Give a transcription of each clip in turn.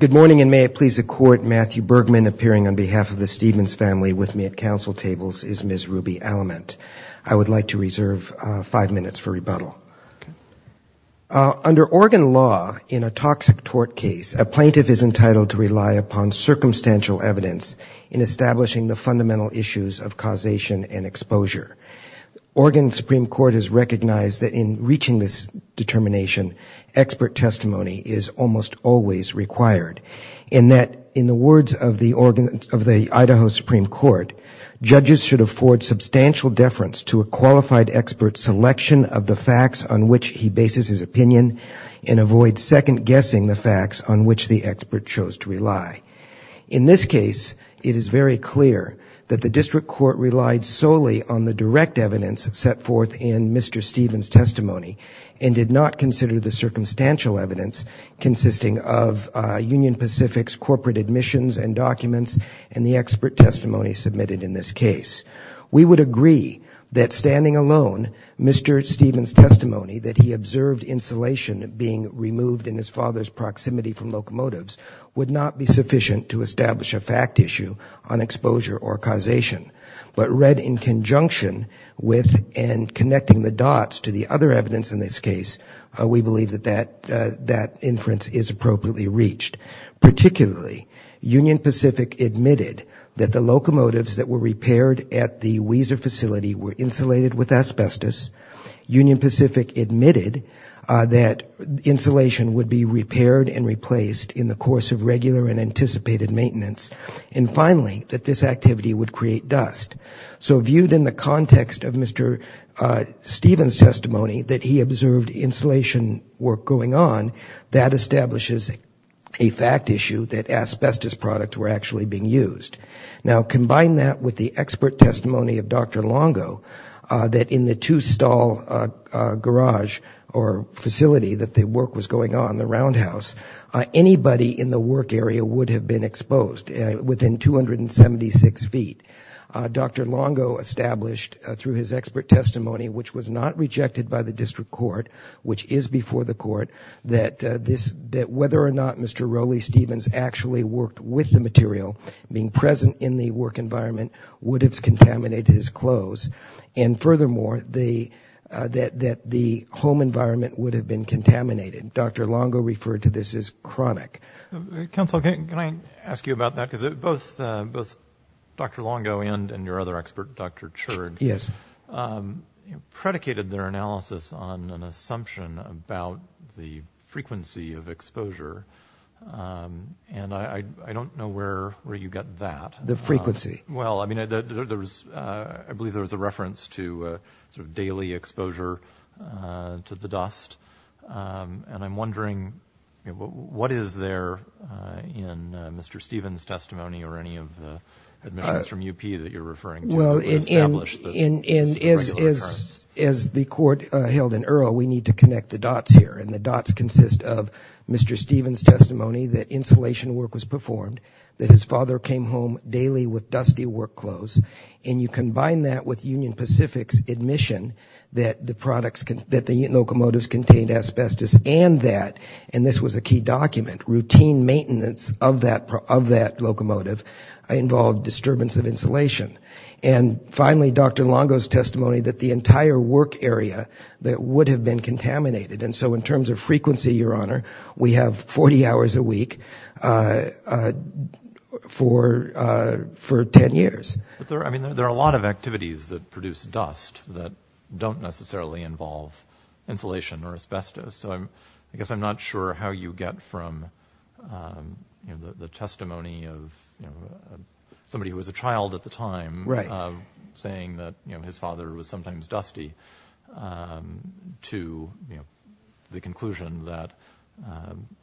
Good morning and may it please the court Matthew Bergman appearing on behalf of the Stephens family with me at council tables is Ms. Ruby Alamant. I would like to reserve five minutes for rebuttal. Under Oregon law in a toxic tort case a plaintiff is entitled to rely upon circumstantial evidence in establishing the fundamental issues of causation and exposure. Oregon Supreme Court has recognized that in reaching this determination expert testimony is almost always required in that in the words of the organ of the Idaho Supreme Court judges should afford substantial deference to a qualified expert selection of the facts on which he bases his opinion and avoid second-guessing the facts on which the expert chose to rely. In this case it is very clear that the district court relied solely on the direct evidence set forth in Mr. Stephens testimony and did not consider the circumstantial evidence consisting of Union Pacific's corporate admissions and documents and the expert testimony submitted in this case. We would agree that standing alone Mr. Stephens testimony that he observed insulation being removed in his father's proximity from locomotives would not be sufficient to establish a fact issue on exposure or causation but read in conjunction with and connecting the dots to the other reached. Particularly Union Pacific admitted that the locomotives that were repaired at the Weiser facility were insulated with asbestos. Union Pacific admitted that insulation would be repaired and replaced in the course of regular and anticipated maintenance and finally that this activity would create dust. So viewed in the context of Mr. Stephens testimony that he observed insulation work going on that establishes a fact issue that asbestos products were actually being used. Now combine that with the expert testimony of Dr. Longo that in the two-stall garage or facility that the work was going on, the roundhouse, anybody in the work area would have been exposed within 276 feet. Dr. Longo established through his expert testimony which was not which is before the court that this that whether or not Mr. Rowley Stephens actually worked with the material being present in the work environment would have contaminated his clothes and furthermore the that that the home environment would have been contaminated. Dr. Longo referred to this as chronic. Counsel can I ask you about that because it both both Dr. Longo and and your other expert Dr. Church yes predicated their analysis on an assumption about the frequency of exposure and I don't know where where you got that the frequency well I mean there was I believe there was a reference to sort of daily exposure to the dust and I'm wondering what is there in Mr. Stephens testimony or any of the admissions from UP that you're referring to. Well as the court held in Earl we need to connect the dots here and the dots consist of Mr. Stephens testimony that insulation work was performed that his father came home daily with dusty work clothes and you combine that with Union Pacific's admission that the products can that the locomotives contained asbestos and that this was a key document routine maintenance of that of that locomotive involved disturbance of insulation and finally Dr. Longo's testimony that the entire work area that would have been contaminated and so in terms of frequency your honor we have 40 hours a week for for 10 years. I mean there are a lot of activities that produce dust that don't necessarily involve insulation or I'm not sure how you get from the testimony of somebody who was a child at the time right saying that you know his father was sometimes dusty to the conclusion that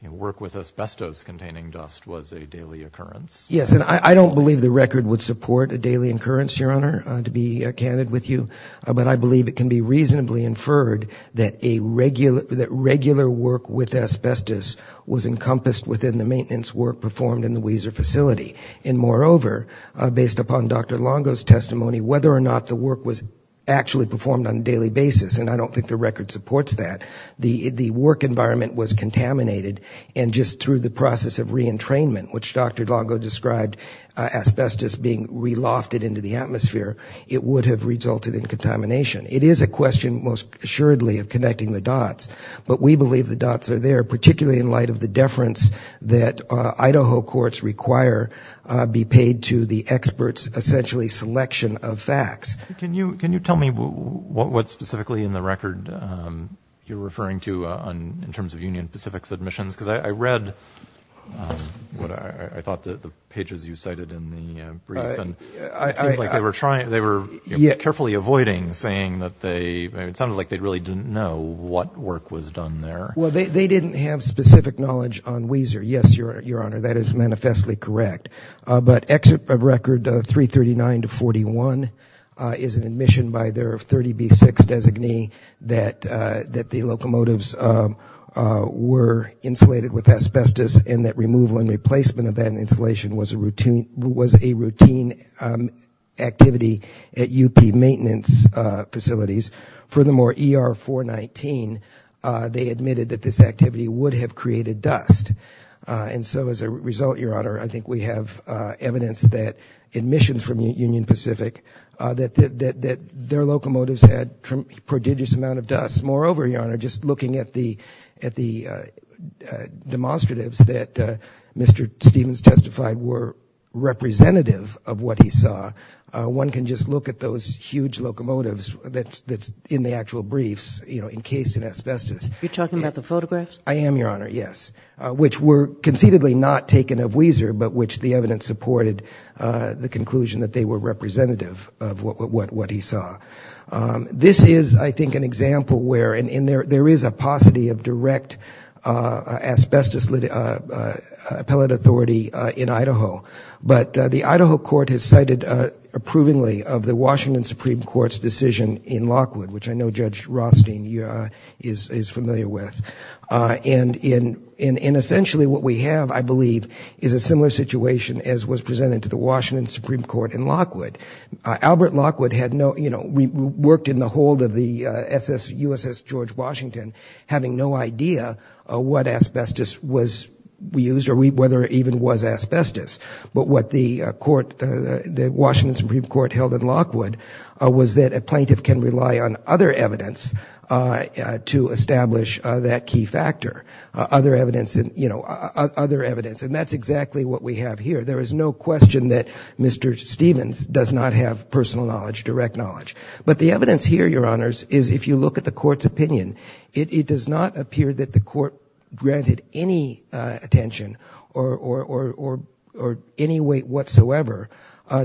work with asbestos containing dust was a daily occurrence. Yes and I don't believe the record would support a daily occurrence your honor to be candid with you but I believe it can be reasonably inferred that a regular that regular work with asbestos was encompassed within the maintenance work performed in the Weiser facility and moreover based upon Dr. Longo's testimony whether or not the work was actually performed on a daily basis and I don't think the record supports that the the work environment was contaminated and just through the process of re-entrainment which Dr. Longo described asbestos being relofted into the atmosphere it would have resulted in contamination. It is a the dots are there particularly in light of the deference that Idaho courts require be paid to the experts essentially selection of facts. Can you can you tell me what what specifically in the record you're referring to on in terms of Union Pacific's admissions because I read what I thought that the pages you cited in the brief and they were trying they were yet carefully avoiding saying that they it sounded like they really didn't know what work was done there. Well they didn't have specific knowledge on Weiser yes your your honor that is manifestly correct but exit of record 339 to 41 is an admission by their 30 B6 designee that that the locomotives were insulated with asbestos and that removal and replacement of that installation was a routine was a routine activity at UP maintenance facilities. Furthermore ER 419 they admitted that this activity would have created dust and so as a result your honor I think we have evidence that admissions from Union Pacific that their locomotives had prodigious amount of dust. Moreover your honor just looking at the at the demonstratives that Mr. Stevens testified were representative of what he saw one can just look at those huge locomotives that's in the actual briefs you know encased in asbestos. You're talking about the photographs? I am your honor yes which were conceitedly not taken of Weiser but which the evidence supported the conclusion that they were representative of what he saw. This is I think an example where and in there there is a paucity of direct asbestos appellate authority in Idaho but the Washington Supreme Court's decision in Lockwood which I know Judge Rothstein is familiar with and in essentially what we have I believe is a similar situation as was presented to the Washington Supreme Court in Lockwood. Albert Lockwood had no you know we worked in the hold of the USS George Washington having no idea what asbestos was we used or whether it even was asbestos but what the court the Washington Supreme Court held in Lockwood was that a plaintiff can rely on other evidence to establish that key factor other evidence and you know other evidence and that's exactly what we have here there is no question that Mr. Stevens does not have personal knowledge direct knowledge but the evidence here your honors is if you look at the court's opinion it does not appear that the court granted any attention or any weight whatsoever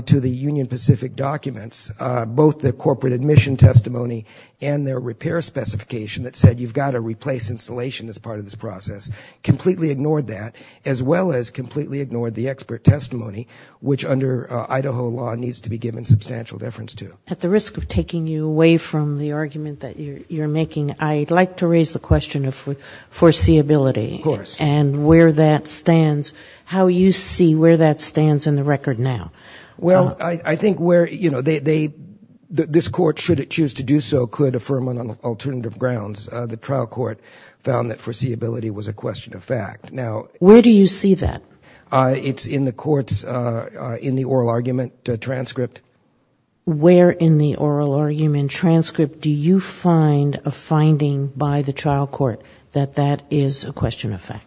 to the Union Pacific documents both the corporate admission testimony and their repair specification that said you've got to replace installation as part of this process completely ignored that as well as completely ignored the expert testimony which under Idaho law needs to be given substantial deference to. At the risk of taking you away from the argument that you're making I'd like to raise the question of foreseeability and where that stands how you see where that stands in the record now. Well I think where you know they this court should it choose to do so could affirm on alternative grounds the trial court found that foreseeability was a question of fact now. Where do you see that? It's in the courts in the oral argument transcript. Where in the oral argument transcript do you find a finding by the question of fact?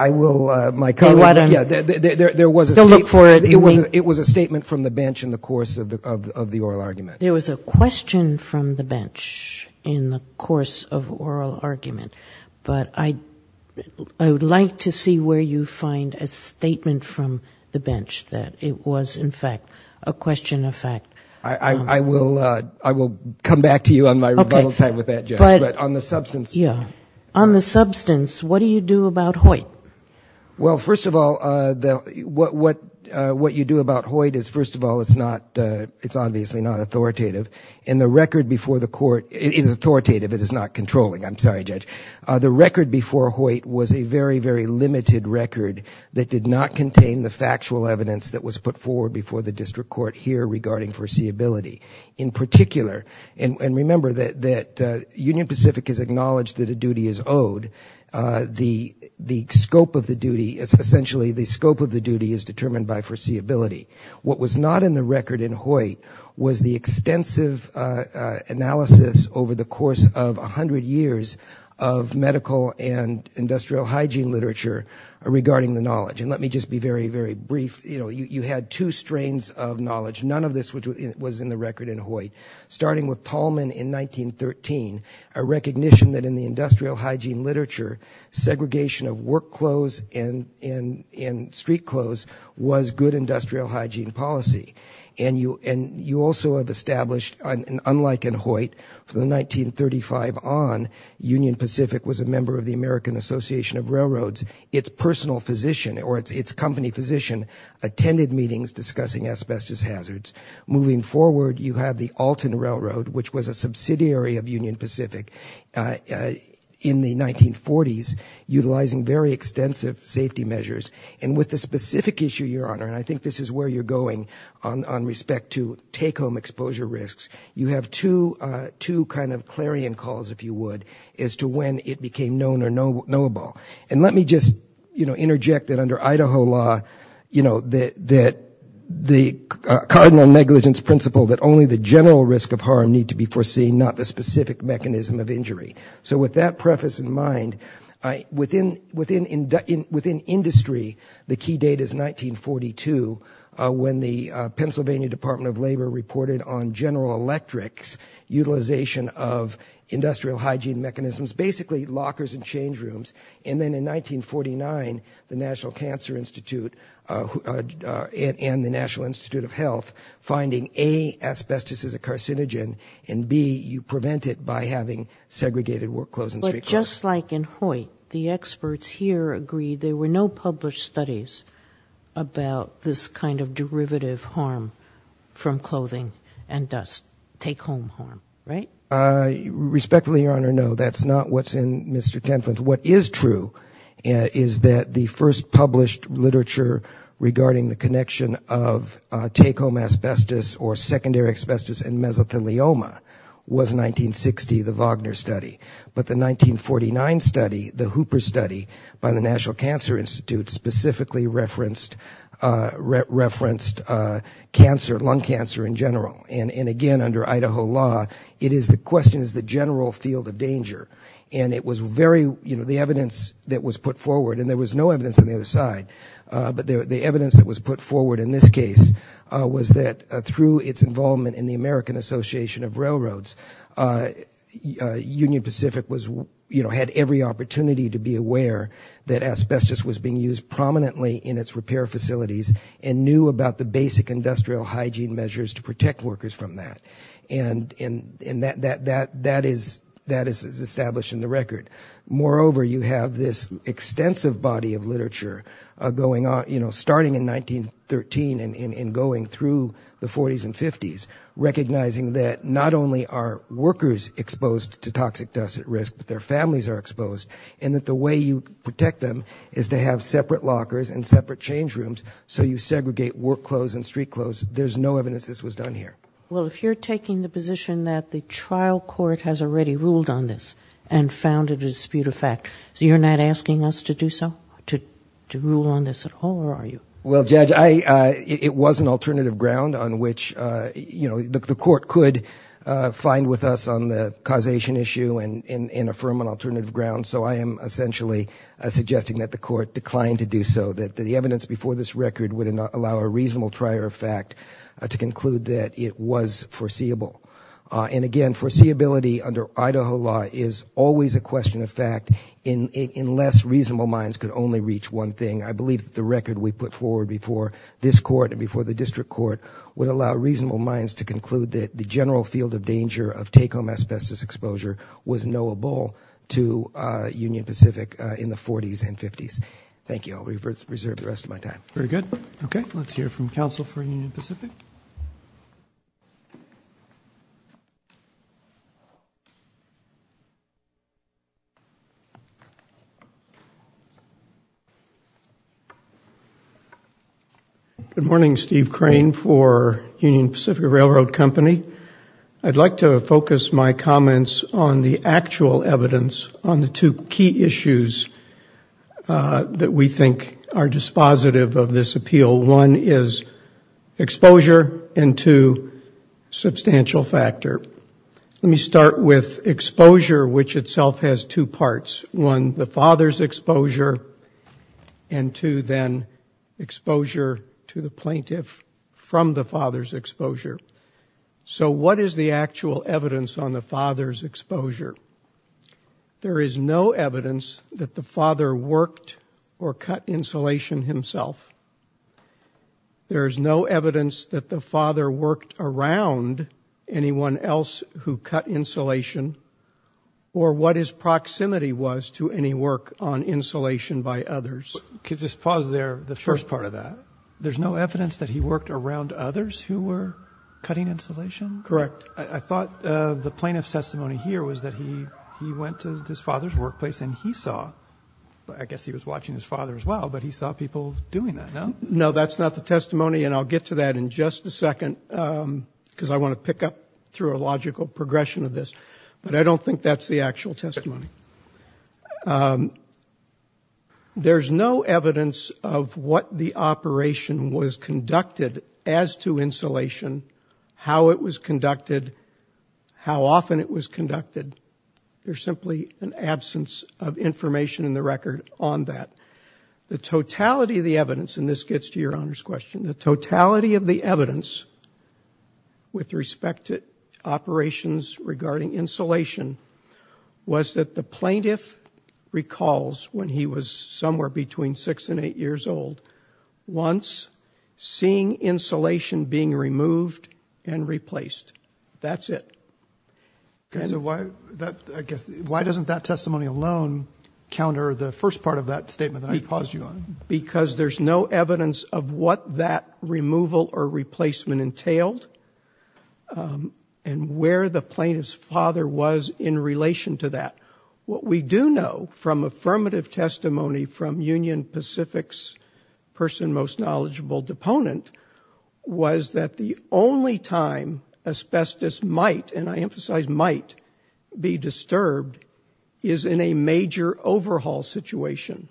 I will my comment yeah there was a look for it it was it was a statement from the bench in the course of the of the oral argument. There was a question from the bench in the course of oral argument but I I would like to see where you find a statement from the bench that it was in fact a question of fact. I will I will come back to you on my rebuttal time with that but on the substance yeah on the substance what do you do about Hoyt? Well first of all the what what what you do about Hoyt is first of all it's not it's obviously not authoritative and the record before the court is authoritative it is not controlling I'm sorry judge the record before Hoyt was a very very limited record that did not contain the factual evidence that was put forward before the district court here regarding foreseeability in particular and remember that Union Pacific has acknowledged that a duty is owed the the scope of the duty is essentially the scope of the duty is determined by foreseeability what was not in the record in Hoyt was the extensive analysis over the course of a hundred years of medical and industrial hygiene literature regarding the knowledge and let me just be very very brief you know you had two strains of knowledge none of this which was in the record in Hoyt starting with Tallman in 1913 a recognition that in the industrial hygiene literature segregation of work clothes and in in street clothes was good industrial hygiene policy and you and you also have established unlike in Hoyt for the 1935 on Union Pacific was a member of the American Association of Railroads its personal physician or its its company physician attended meetings discussing asbestos hazards moving forward you have the Alton Railroad which was a subsidiary of Union Pacific in the 1940s utilizing very extensive safety measures and with the specific issue your honor and I think this is where you're going on respect to take home exposure risks you have to to kind of clarion calls if you would as to when it became known or knowable and let me just you know interject that under principle that only the general risk of harm need to be foreseen not the specific mechanism of injury so with that preface in mind I within within in within industry the key data is 1942 when the Pennsylvania Department of Labor reported on General Electric's utilization of industrial hygiene mechanisms basically lockers and change rooms and then in 1949 the National Institute of Health finding a asbestos is a carcinogen and be you prevent it by having segregated work clothes and just like in Hoyt the experts here agreed there were no published studies about this kind of derivative harm from clothing and dust take home harm right respectfully your honor no that's not what's in mr. template what is true is that the first published literature regarding the connection of take-home asbestos or secondary asbestos and mesothelioma was 1960 the Wagner study but the 1949 study the Hooper study by the National Cancer Institute specifically referenced referenced cancer lung cancer in general and and again under Idaho law it is the question is the general field of danger and it was very you know the evidence that was put forward and there was no evidence on the other side but the evidence that was put forward in this case was that through its involvement in the American Association of Railroads Union Pacific was you know had every opportunity to be aware that asbestos was being used prominently in its repair facilities and knew about the basic industrial hygiene measures to protect workers from that and in that that that that is that is established in the record moreover you have this extensive body of literature going on you know starting in 1913 and in going through the 40s and 50s recognizing that not only are workers exposed to toxic dust at risk but their families are exposed and that the way you protect them is to have separate lockers and separate change rooms so you segregate work clothes and street clothes there's no evidence this was done here well if you're taking the position that the trial court has already ruled on this and found it a dispute of fact so you're not asking us to do so to rule on this at all or are you well judge I it was an alternative ground on which you know the court could find with us on the causation issue and in a firm an alternative ground so I am essentially suggesting that the court declined to do so that the evidence before this record would allow a reasonable trier of fact to conclude that it was foreseeable and again foreseeability under Idaho law is always a question of fact in in less reasonable minds could only reach one thing I believe the record we put forward before this court and before the district court would allow reasonable minds to conclude that the general field of danger of take-home asbestos exposure was knowable to Union Pacific in the 40s and 50s thank you I'll reserve the rest of my time very good okay let's hear from Council for Union Pacific good morning Steve crane for Union Pacific Railroad Company I'd like to focus my comments on the actual evidence on the two key issues that we think are dispositive of this appeal one is exposure and two substantial factor let me start with exposure which itself has two parts one the father's exposure and two then exposure to the plaintiff from the father's exposure so what is the actual evidence on the father's exposure there is no evidence that the father worked or cut insulation himself there is no evidence that the father worked around anyone else who cut insulation or what his proximity was to any work on insulation by others could just pause there the first part of that there's no evidence that he worked around others who were cutting insulation correct I thought the plaintiff's testimony here was that he he went to this father's I guess he was watching his father as well but he saw people doing that no no that's not the testimony and I'll get to that in just a second because I want to pick up through a logical progression of this but I don't think that's the actual testimony there's no evidence of what the operation was conducted as to insulation how it was conducted how often it was conducted there's simply an on that the totality of the evidence and this gets to your honors question the totality of the evidence with respect to operations regarding insulation was that the plaintiff recalls when he was somewhere between six and eight years old once seeing insulation being removed and replaced that's it okay so why that I guess why doesn't that testimony alone counter the first part of that statement I pause you on because there's no evidence of what that removal or replacement entailed and where the plaintiff's father was in relation to that what we do know from affirmative testimony from Union Pacific's person most knowledgeable deponent was that the only time asbestos might and I emphasize might be disturbed is in a major overhaul situation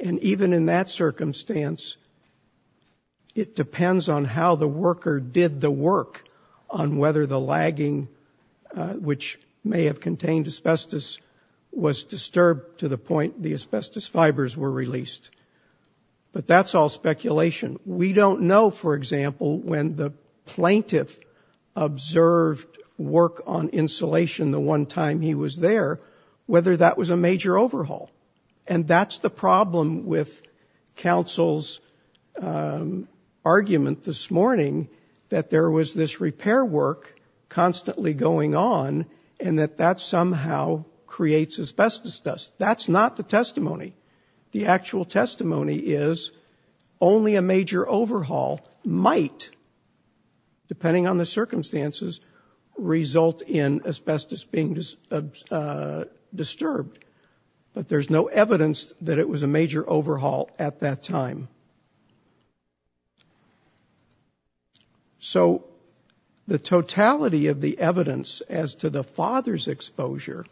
and even in that circumstance it depends on how the worker did the work on whether the lagging which may have contained asbestos was disturbed to the point the asbestos fibers were released but that's all speculation we don't know for example when the plaintiff observed work on insulation the one time he was there whether that was a major overhaul and that's the problem with counsel's argument this morning that there was this repair work constantly going on and that that somehow creates asbestos dust that's not the testimony the actual testimony is only a major overhaul might depending on the circumstances result in asbestos being disturbed but there's no evidence that it was a major overhaul at that time so the totality of the evidence as to the father's exposure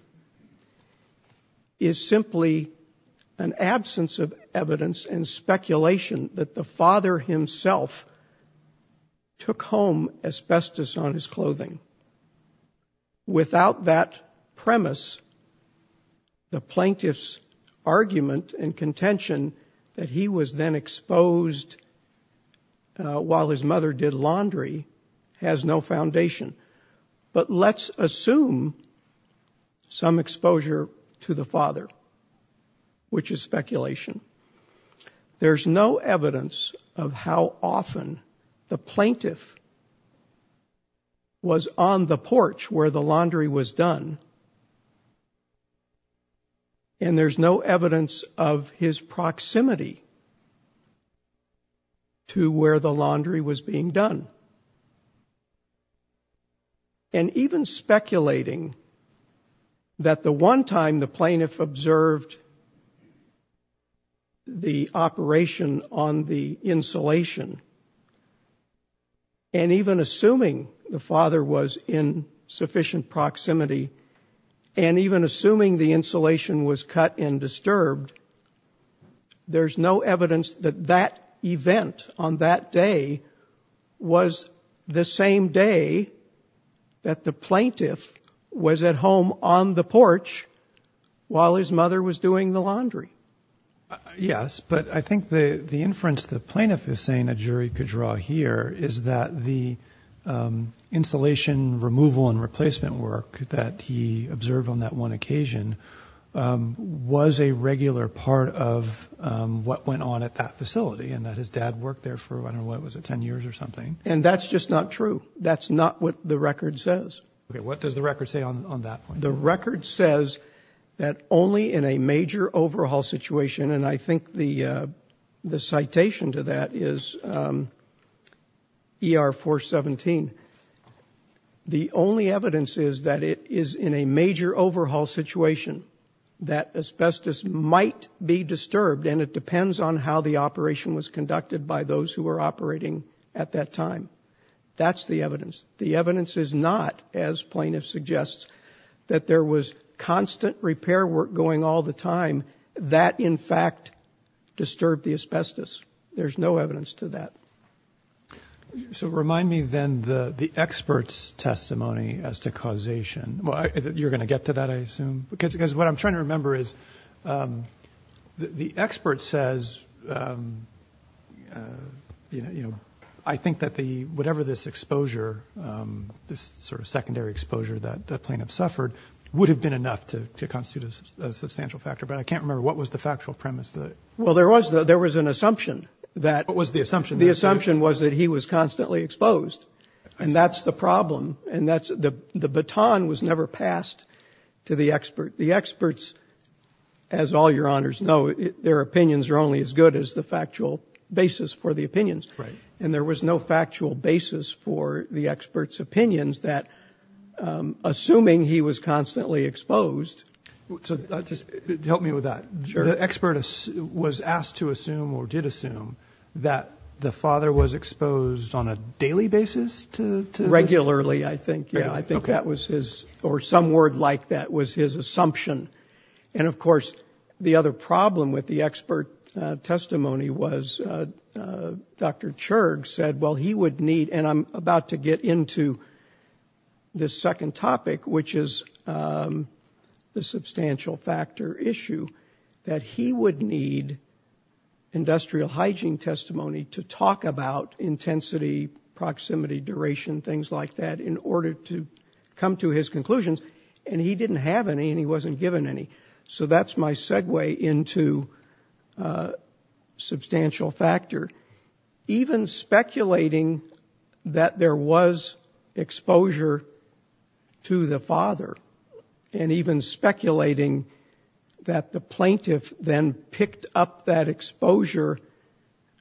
is simply an absence of evidence and speculation that the father himself took home asbestos on his clothing without that premise the plaintiff's argument and contention that he was then exposed while his mother did laundry has no foundation but let's assume some exposure to the father which is speculation there's no evidence of how often the plaintiff was on the porch where the laundry was done and there's no evidence of his proximity to where the laundry was being done and even speculating that the one time the the operation on the insulation and even assuming the father was in sufficient proximity and even assuming the insulation was cut and disturbed there's no evidence that that event on that day was the same day that the plaintiff was at home on the porch while his mother was doing the laundry yes but I think the the inference the plaintiff is saying a jury could draw here is that the insulation removal and replacement work that he observed on that one occasion was a regular part of what went on at that facility and that his dad worked there for what was it 10 years or something and that's just not true that's not what the record says what does the record say on that the record says that only in a major overhaul situation and I think the the citation to that is er 417 the only evidence is that it is in a major overhaul situation that asbestos might be disturbed and it depends on how the operation was evidence the evidence is not as plaintiff suggests that there was constant repair work going all the time that in fact disturbed the asbestos there's no evidence to that so remind me then the the experts testimony as to causation well you're going to get to that I assume because because what I'm trying to remember is the expert says you know you know I think that the whatever this exposure this sort of secondary exposure that the plaintiff suffered would have been enough to constitute a substantial factor but I can't remember what was the factual premise that well there was that there was an assumption that was the assumption the assumption was that he was constantly exposed and that's the problem and that's the the baton was never passed to the expert the experts as all your honors know their opinions are only as good as the factual basis for the opinions right and there was no factual basis for the experts opinions that assuming he was constantly exposed so just help me with that sure the expert was asked to assume or did assume that the father was exposed on a daily basis to regularly I think yeah I think that was his or some word like that was his assumption and of course the other problem with the expert testimony was dr. church said well he would need and I'm about to get into this second topic which is the substantial factor issue that he would need industrial hygiene testimony to talk about intensity proximity duration things like that in order to come to his segue into substantial factor even speculating that there was exposure to the father and even speculating that the plaintiff then picked up that exposure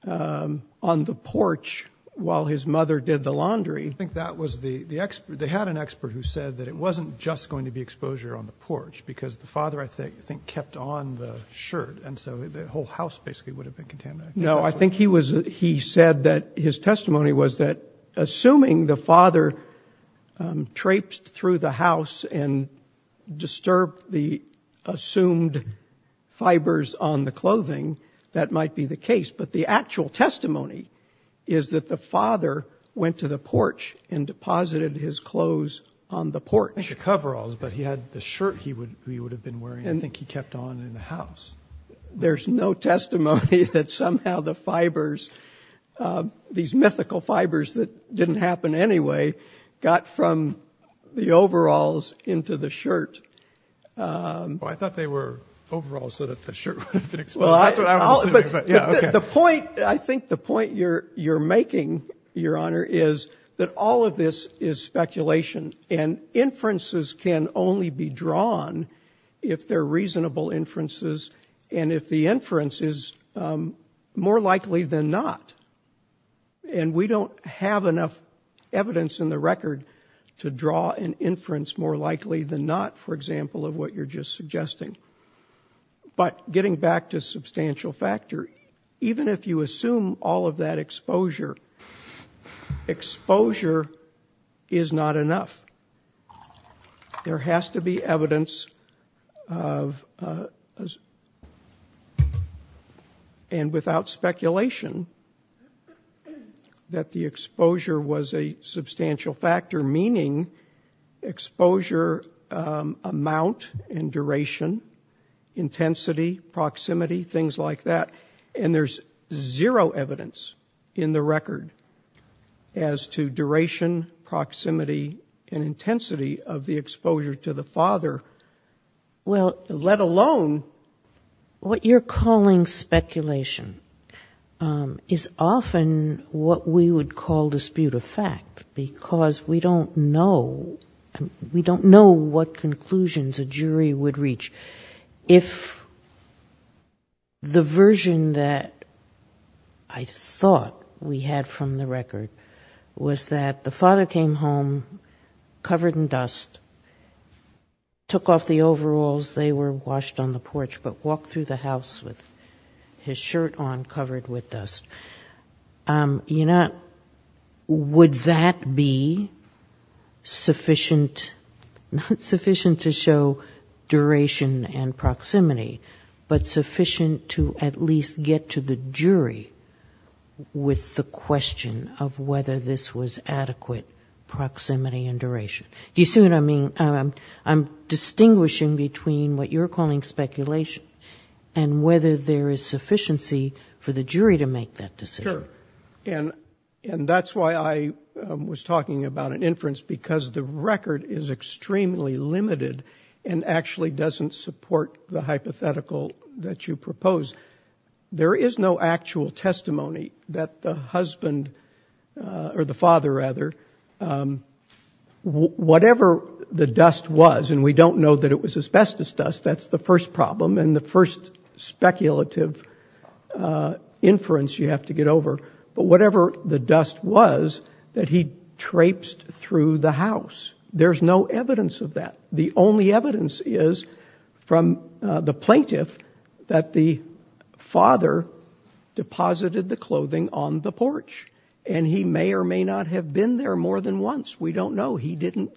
on the porch while his mother did the laundry I think that was the the expert they had an expert who said that it wasn't just going to be exposure on the shirt and so the whole house basically would have been contaminated no I think he was he said that his testimony was that assuming the father traipsed through the house and disturbed the assumed fibers on the clothing that might be the case but the actual testimony is that the father went to the porch and deposited his clothes on the porch coveralls but he had the shirt he would he would have been wearing I think he kept on in the house there's no testimony that somehow the fibers these mythical fibers that didn't happen anyway got from the overalls into the shirt I thought they were overall so that the shirt the point I think the point you're you're making your honor is that all of this is speculation and inferences can only be drawn if they're reasonable inferences and if the inference is more likely than not and we don't have enough evidence in the record to draw an inference more likely than not for example of what you're just suggesting but getting back to exposure is not enough there has to be evidence of and without speculation that the exposure was a substantial factor meaning exposure amount and duration intensity proximity things like that and there's zero evidence in the record as to duration proximity and intensity of the exposure to the father well let alone what you're calling speculation is often what we would call dispute a fact because we don't know and we don't know what conclusions a jury would reach if the version that I thought we had from the record was that the father came home covered in dust took off the overalls they were washed on the porch but walked through the house with his shirt on covered with dust you know would that be sufficient sufficient to show duration and proximity but sufficient to at least get to the jury with the question of whether this was adequate proximity and duration do you see what I mean I'm distinguishing between what you're calling speculation and whether there is sufficiency for the jury to make that and and that's why I was talking about an inference because the record is extremely limited and actually doesn't support the hypothetical that you propose there is no actual testimony that the husband or the father rather whatever the dust was and we don't know that it was asbestos dust that's the first speculative inference you have to get over but whatever the dust was that he traipsed through the house there's no evidence of that the only evidence is from the plaintiff that the father deposited the clothing on the porch and he may or may not have been there more than once we don't know he didn't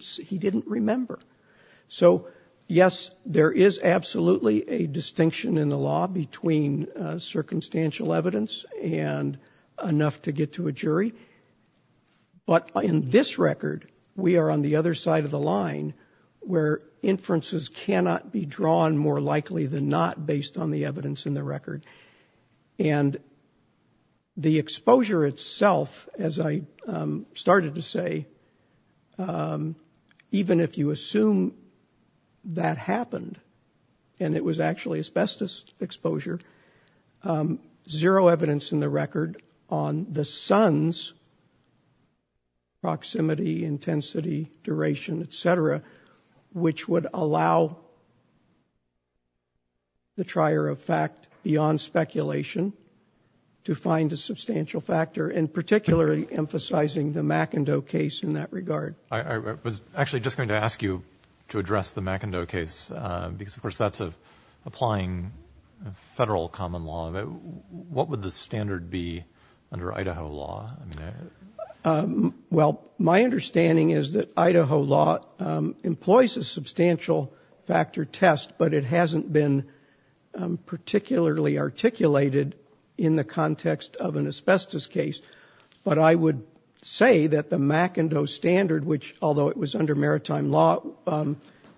he is absolutely a distinction in the law between circumstantial evidence and enough to get to a jury but in this record we are on the other side of the line where inferences cannot be drawn more likely than not based on the evidence in the record and the exposure itself as I started to say even if you and it was actually asbestos exposure zero evidence in the record on the Sun's proximity intensity duration etc which would allow the trier of fact beyond speculation to find a substantial factor in particularly emphasizing the McIndoe case in that regard I was actually just going to ask you to address the McIndoe case because of course that's a applying federal common law what would the standard be under Idaho law well my understanding is that Idaho law employs a substantial factor test but it hasn't been particularly articulated in the context of an asbestos case but I would say that the McIndoe standard which although it was under maritime law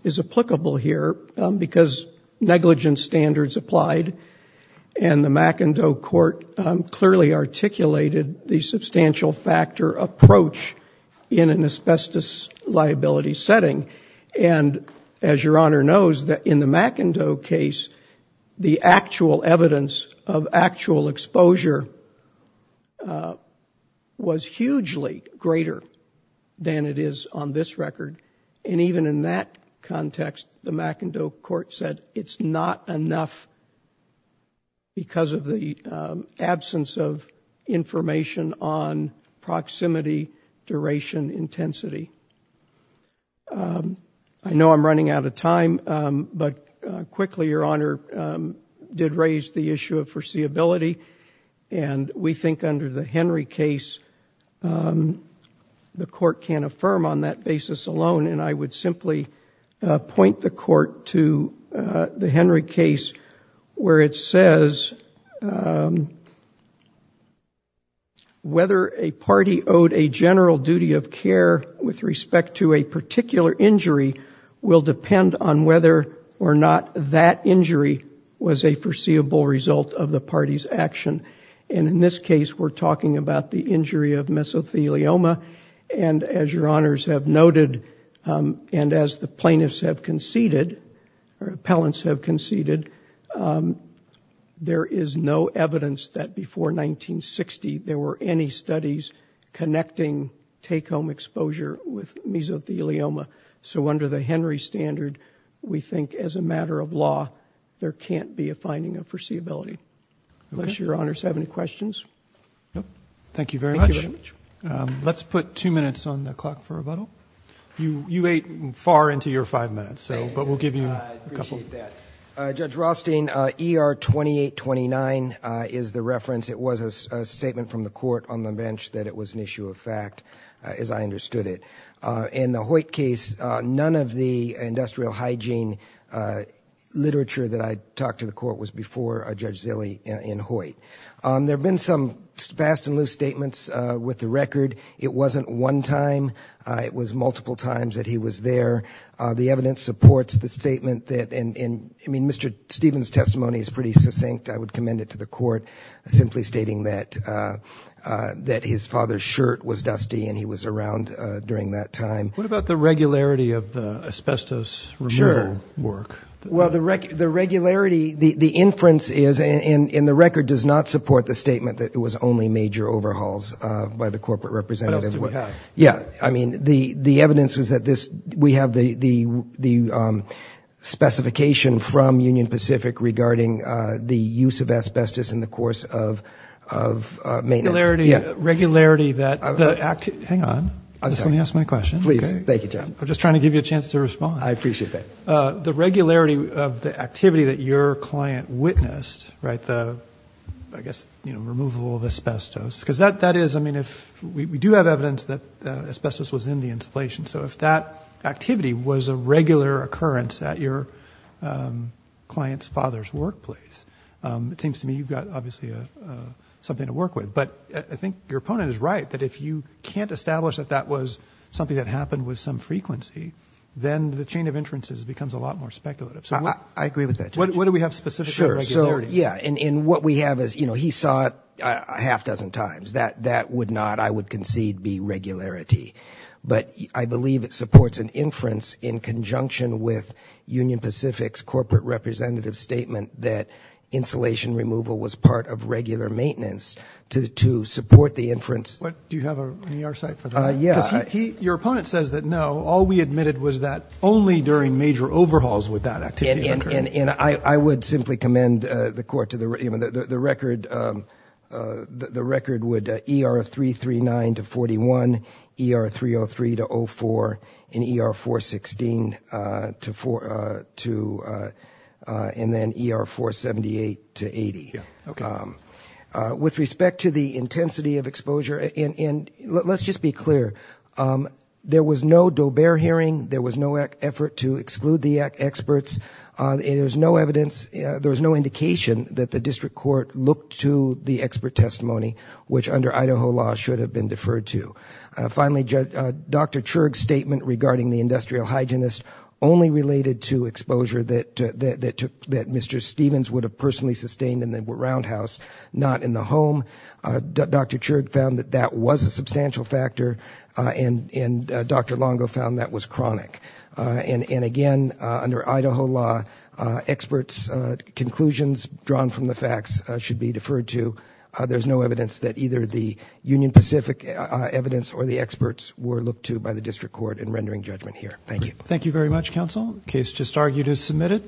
is applicable here because negligent standards applied and the McIndoe court clearly articulated the substantial factor approach in an asbestos liability setting and as your honor knows that in the McIndoe case the actual evidence of actual exposure was hugely greater than it is on this record and even in that context the McIndoe court said it's not enough because of the absence of information on proximity duration intensity I know I'm running out of time but quickly your honor did raise the alone and I would simply point the court to the Henry case where it says whether a party owed a general duty of care with respect to a particular injury will depend on whether or not that injury was a foreseeable result of the party's action and in this case we're talking about the injury of mesothelioma and as your honors have noted and as the plaintiffs have conceded or appellants have conceded there is no evidence that before 1960 there were any studies connecting take-home exposure with mesothelioma so under the Henry standard we think as a matter of law there can't be a finding of foreseeability unless your honors have any questions. Thank you very much. Let's put two minutes on the clock for rebuttal. You ate far into your five minutes so but we'll give you a couple. Judge Rothstein, ER 2829 is the reference it was a statement from the court on the bench that it was an issue of fact as I understood it. In the Hoyt case none of the industrial hygiene literature that I talked to the court was before Judge Zille in Hoyt. There have been some fast and loose statements with the record. It wasn't one time. It was multiple times that he was there. The evidence supports the statement that and I mean Mr. Stevens testimony is pretty succinct. I would commend it to the court simply stating that that his father's shirt was dusty and he was around during that time. What about the regularity of the asbestos removal work? Well the regularity the inference is in the record does not support the statement that it was only major overhauls by the corporate representative. Yeah I mean the the evidence was that this we have the the specification from Union Pacific regarding the use of asbestos in the course of maintenance. Regularity that the act hang on I just let me ask my question please. Thank you John. I'm just trying to give you a chance to respond. I appreciate that. The regularity of the client witnessed right the I guess you know removal of asbestos because that that is I mean if we do have evidence that asbestos was in the installation so if that activity was a regular occurrence at your client's father's workplace it seems to me you've got obviously a something to work with but I think your opponent is right that if you can't establish that that was something that happened with some frequency then the chain of inferences becomes a lot more speculative. I agree with that. What do we have specifically? Sure so yeah and in what we have is you know he saw it a half dozen times that that would not I would concede be regularity but I believe it supports an inference in conjunction with Union Pacific's corporate representative statement that insulation removal was part of regular maintenance to support the inference. What do you have on your side for that? Yeah. Your opponent says that no all we that activity occurred. And I would simply commend the court to the record the record would ER 339 to 41, ER 303 to 04, and ER 416 to 4 to and then ER 478 to 80. Okay. With respect to the intensity of exposure and let's just be clear there was no effort to exclude the experts. There was no evidence there was no indication that the district court looked to the expert testimony which under Idaho law should have been deferred to. Finally Dr. Chirg's statement regarding the industrial hygienist only related to exposure that that took that Mr. Stevens would have personally sustained in the roundhouse not in the home. Dr. Chirg found that that was a substantial factor and Dr. Longo found that was chronic. And again under Idaho law experts conclusions drawn from the facts should be deferred to. There's no evidence that either the Union Pacific evidence or the experts were looked to by the district court in rendering judgment here. Thank you. Thank you very much counsel. Case just argued is submitted.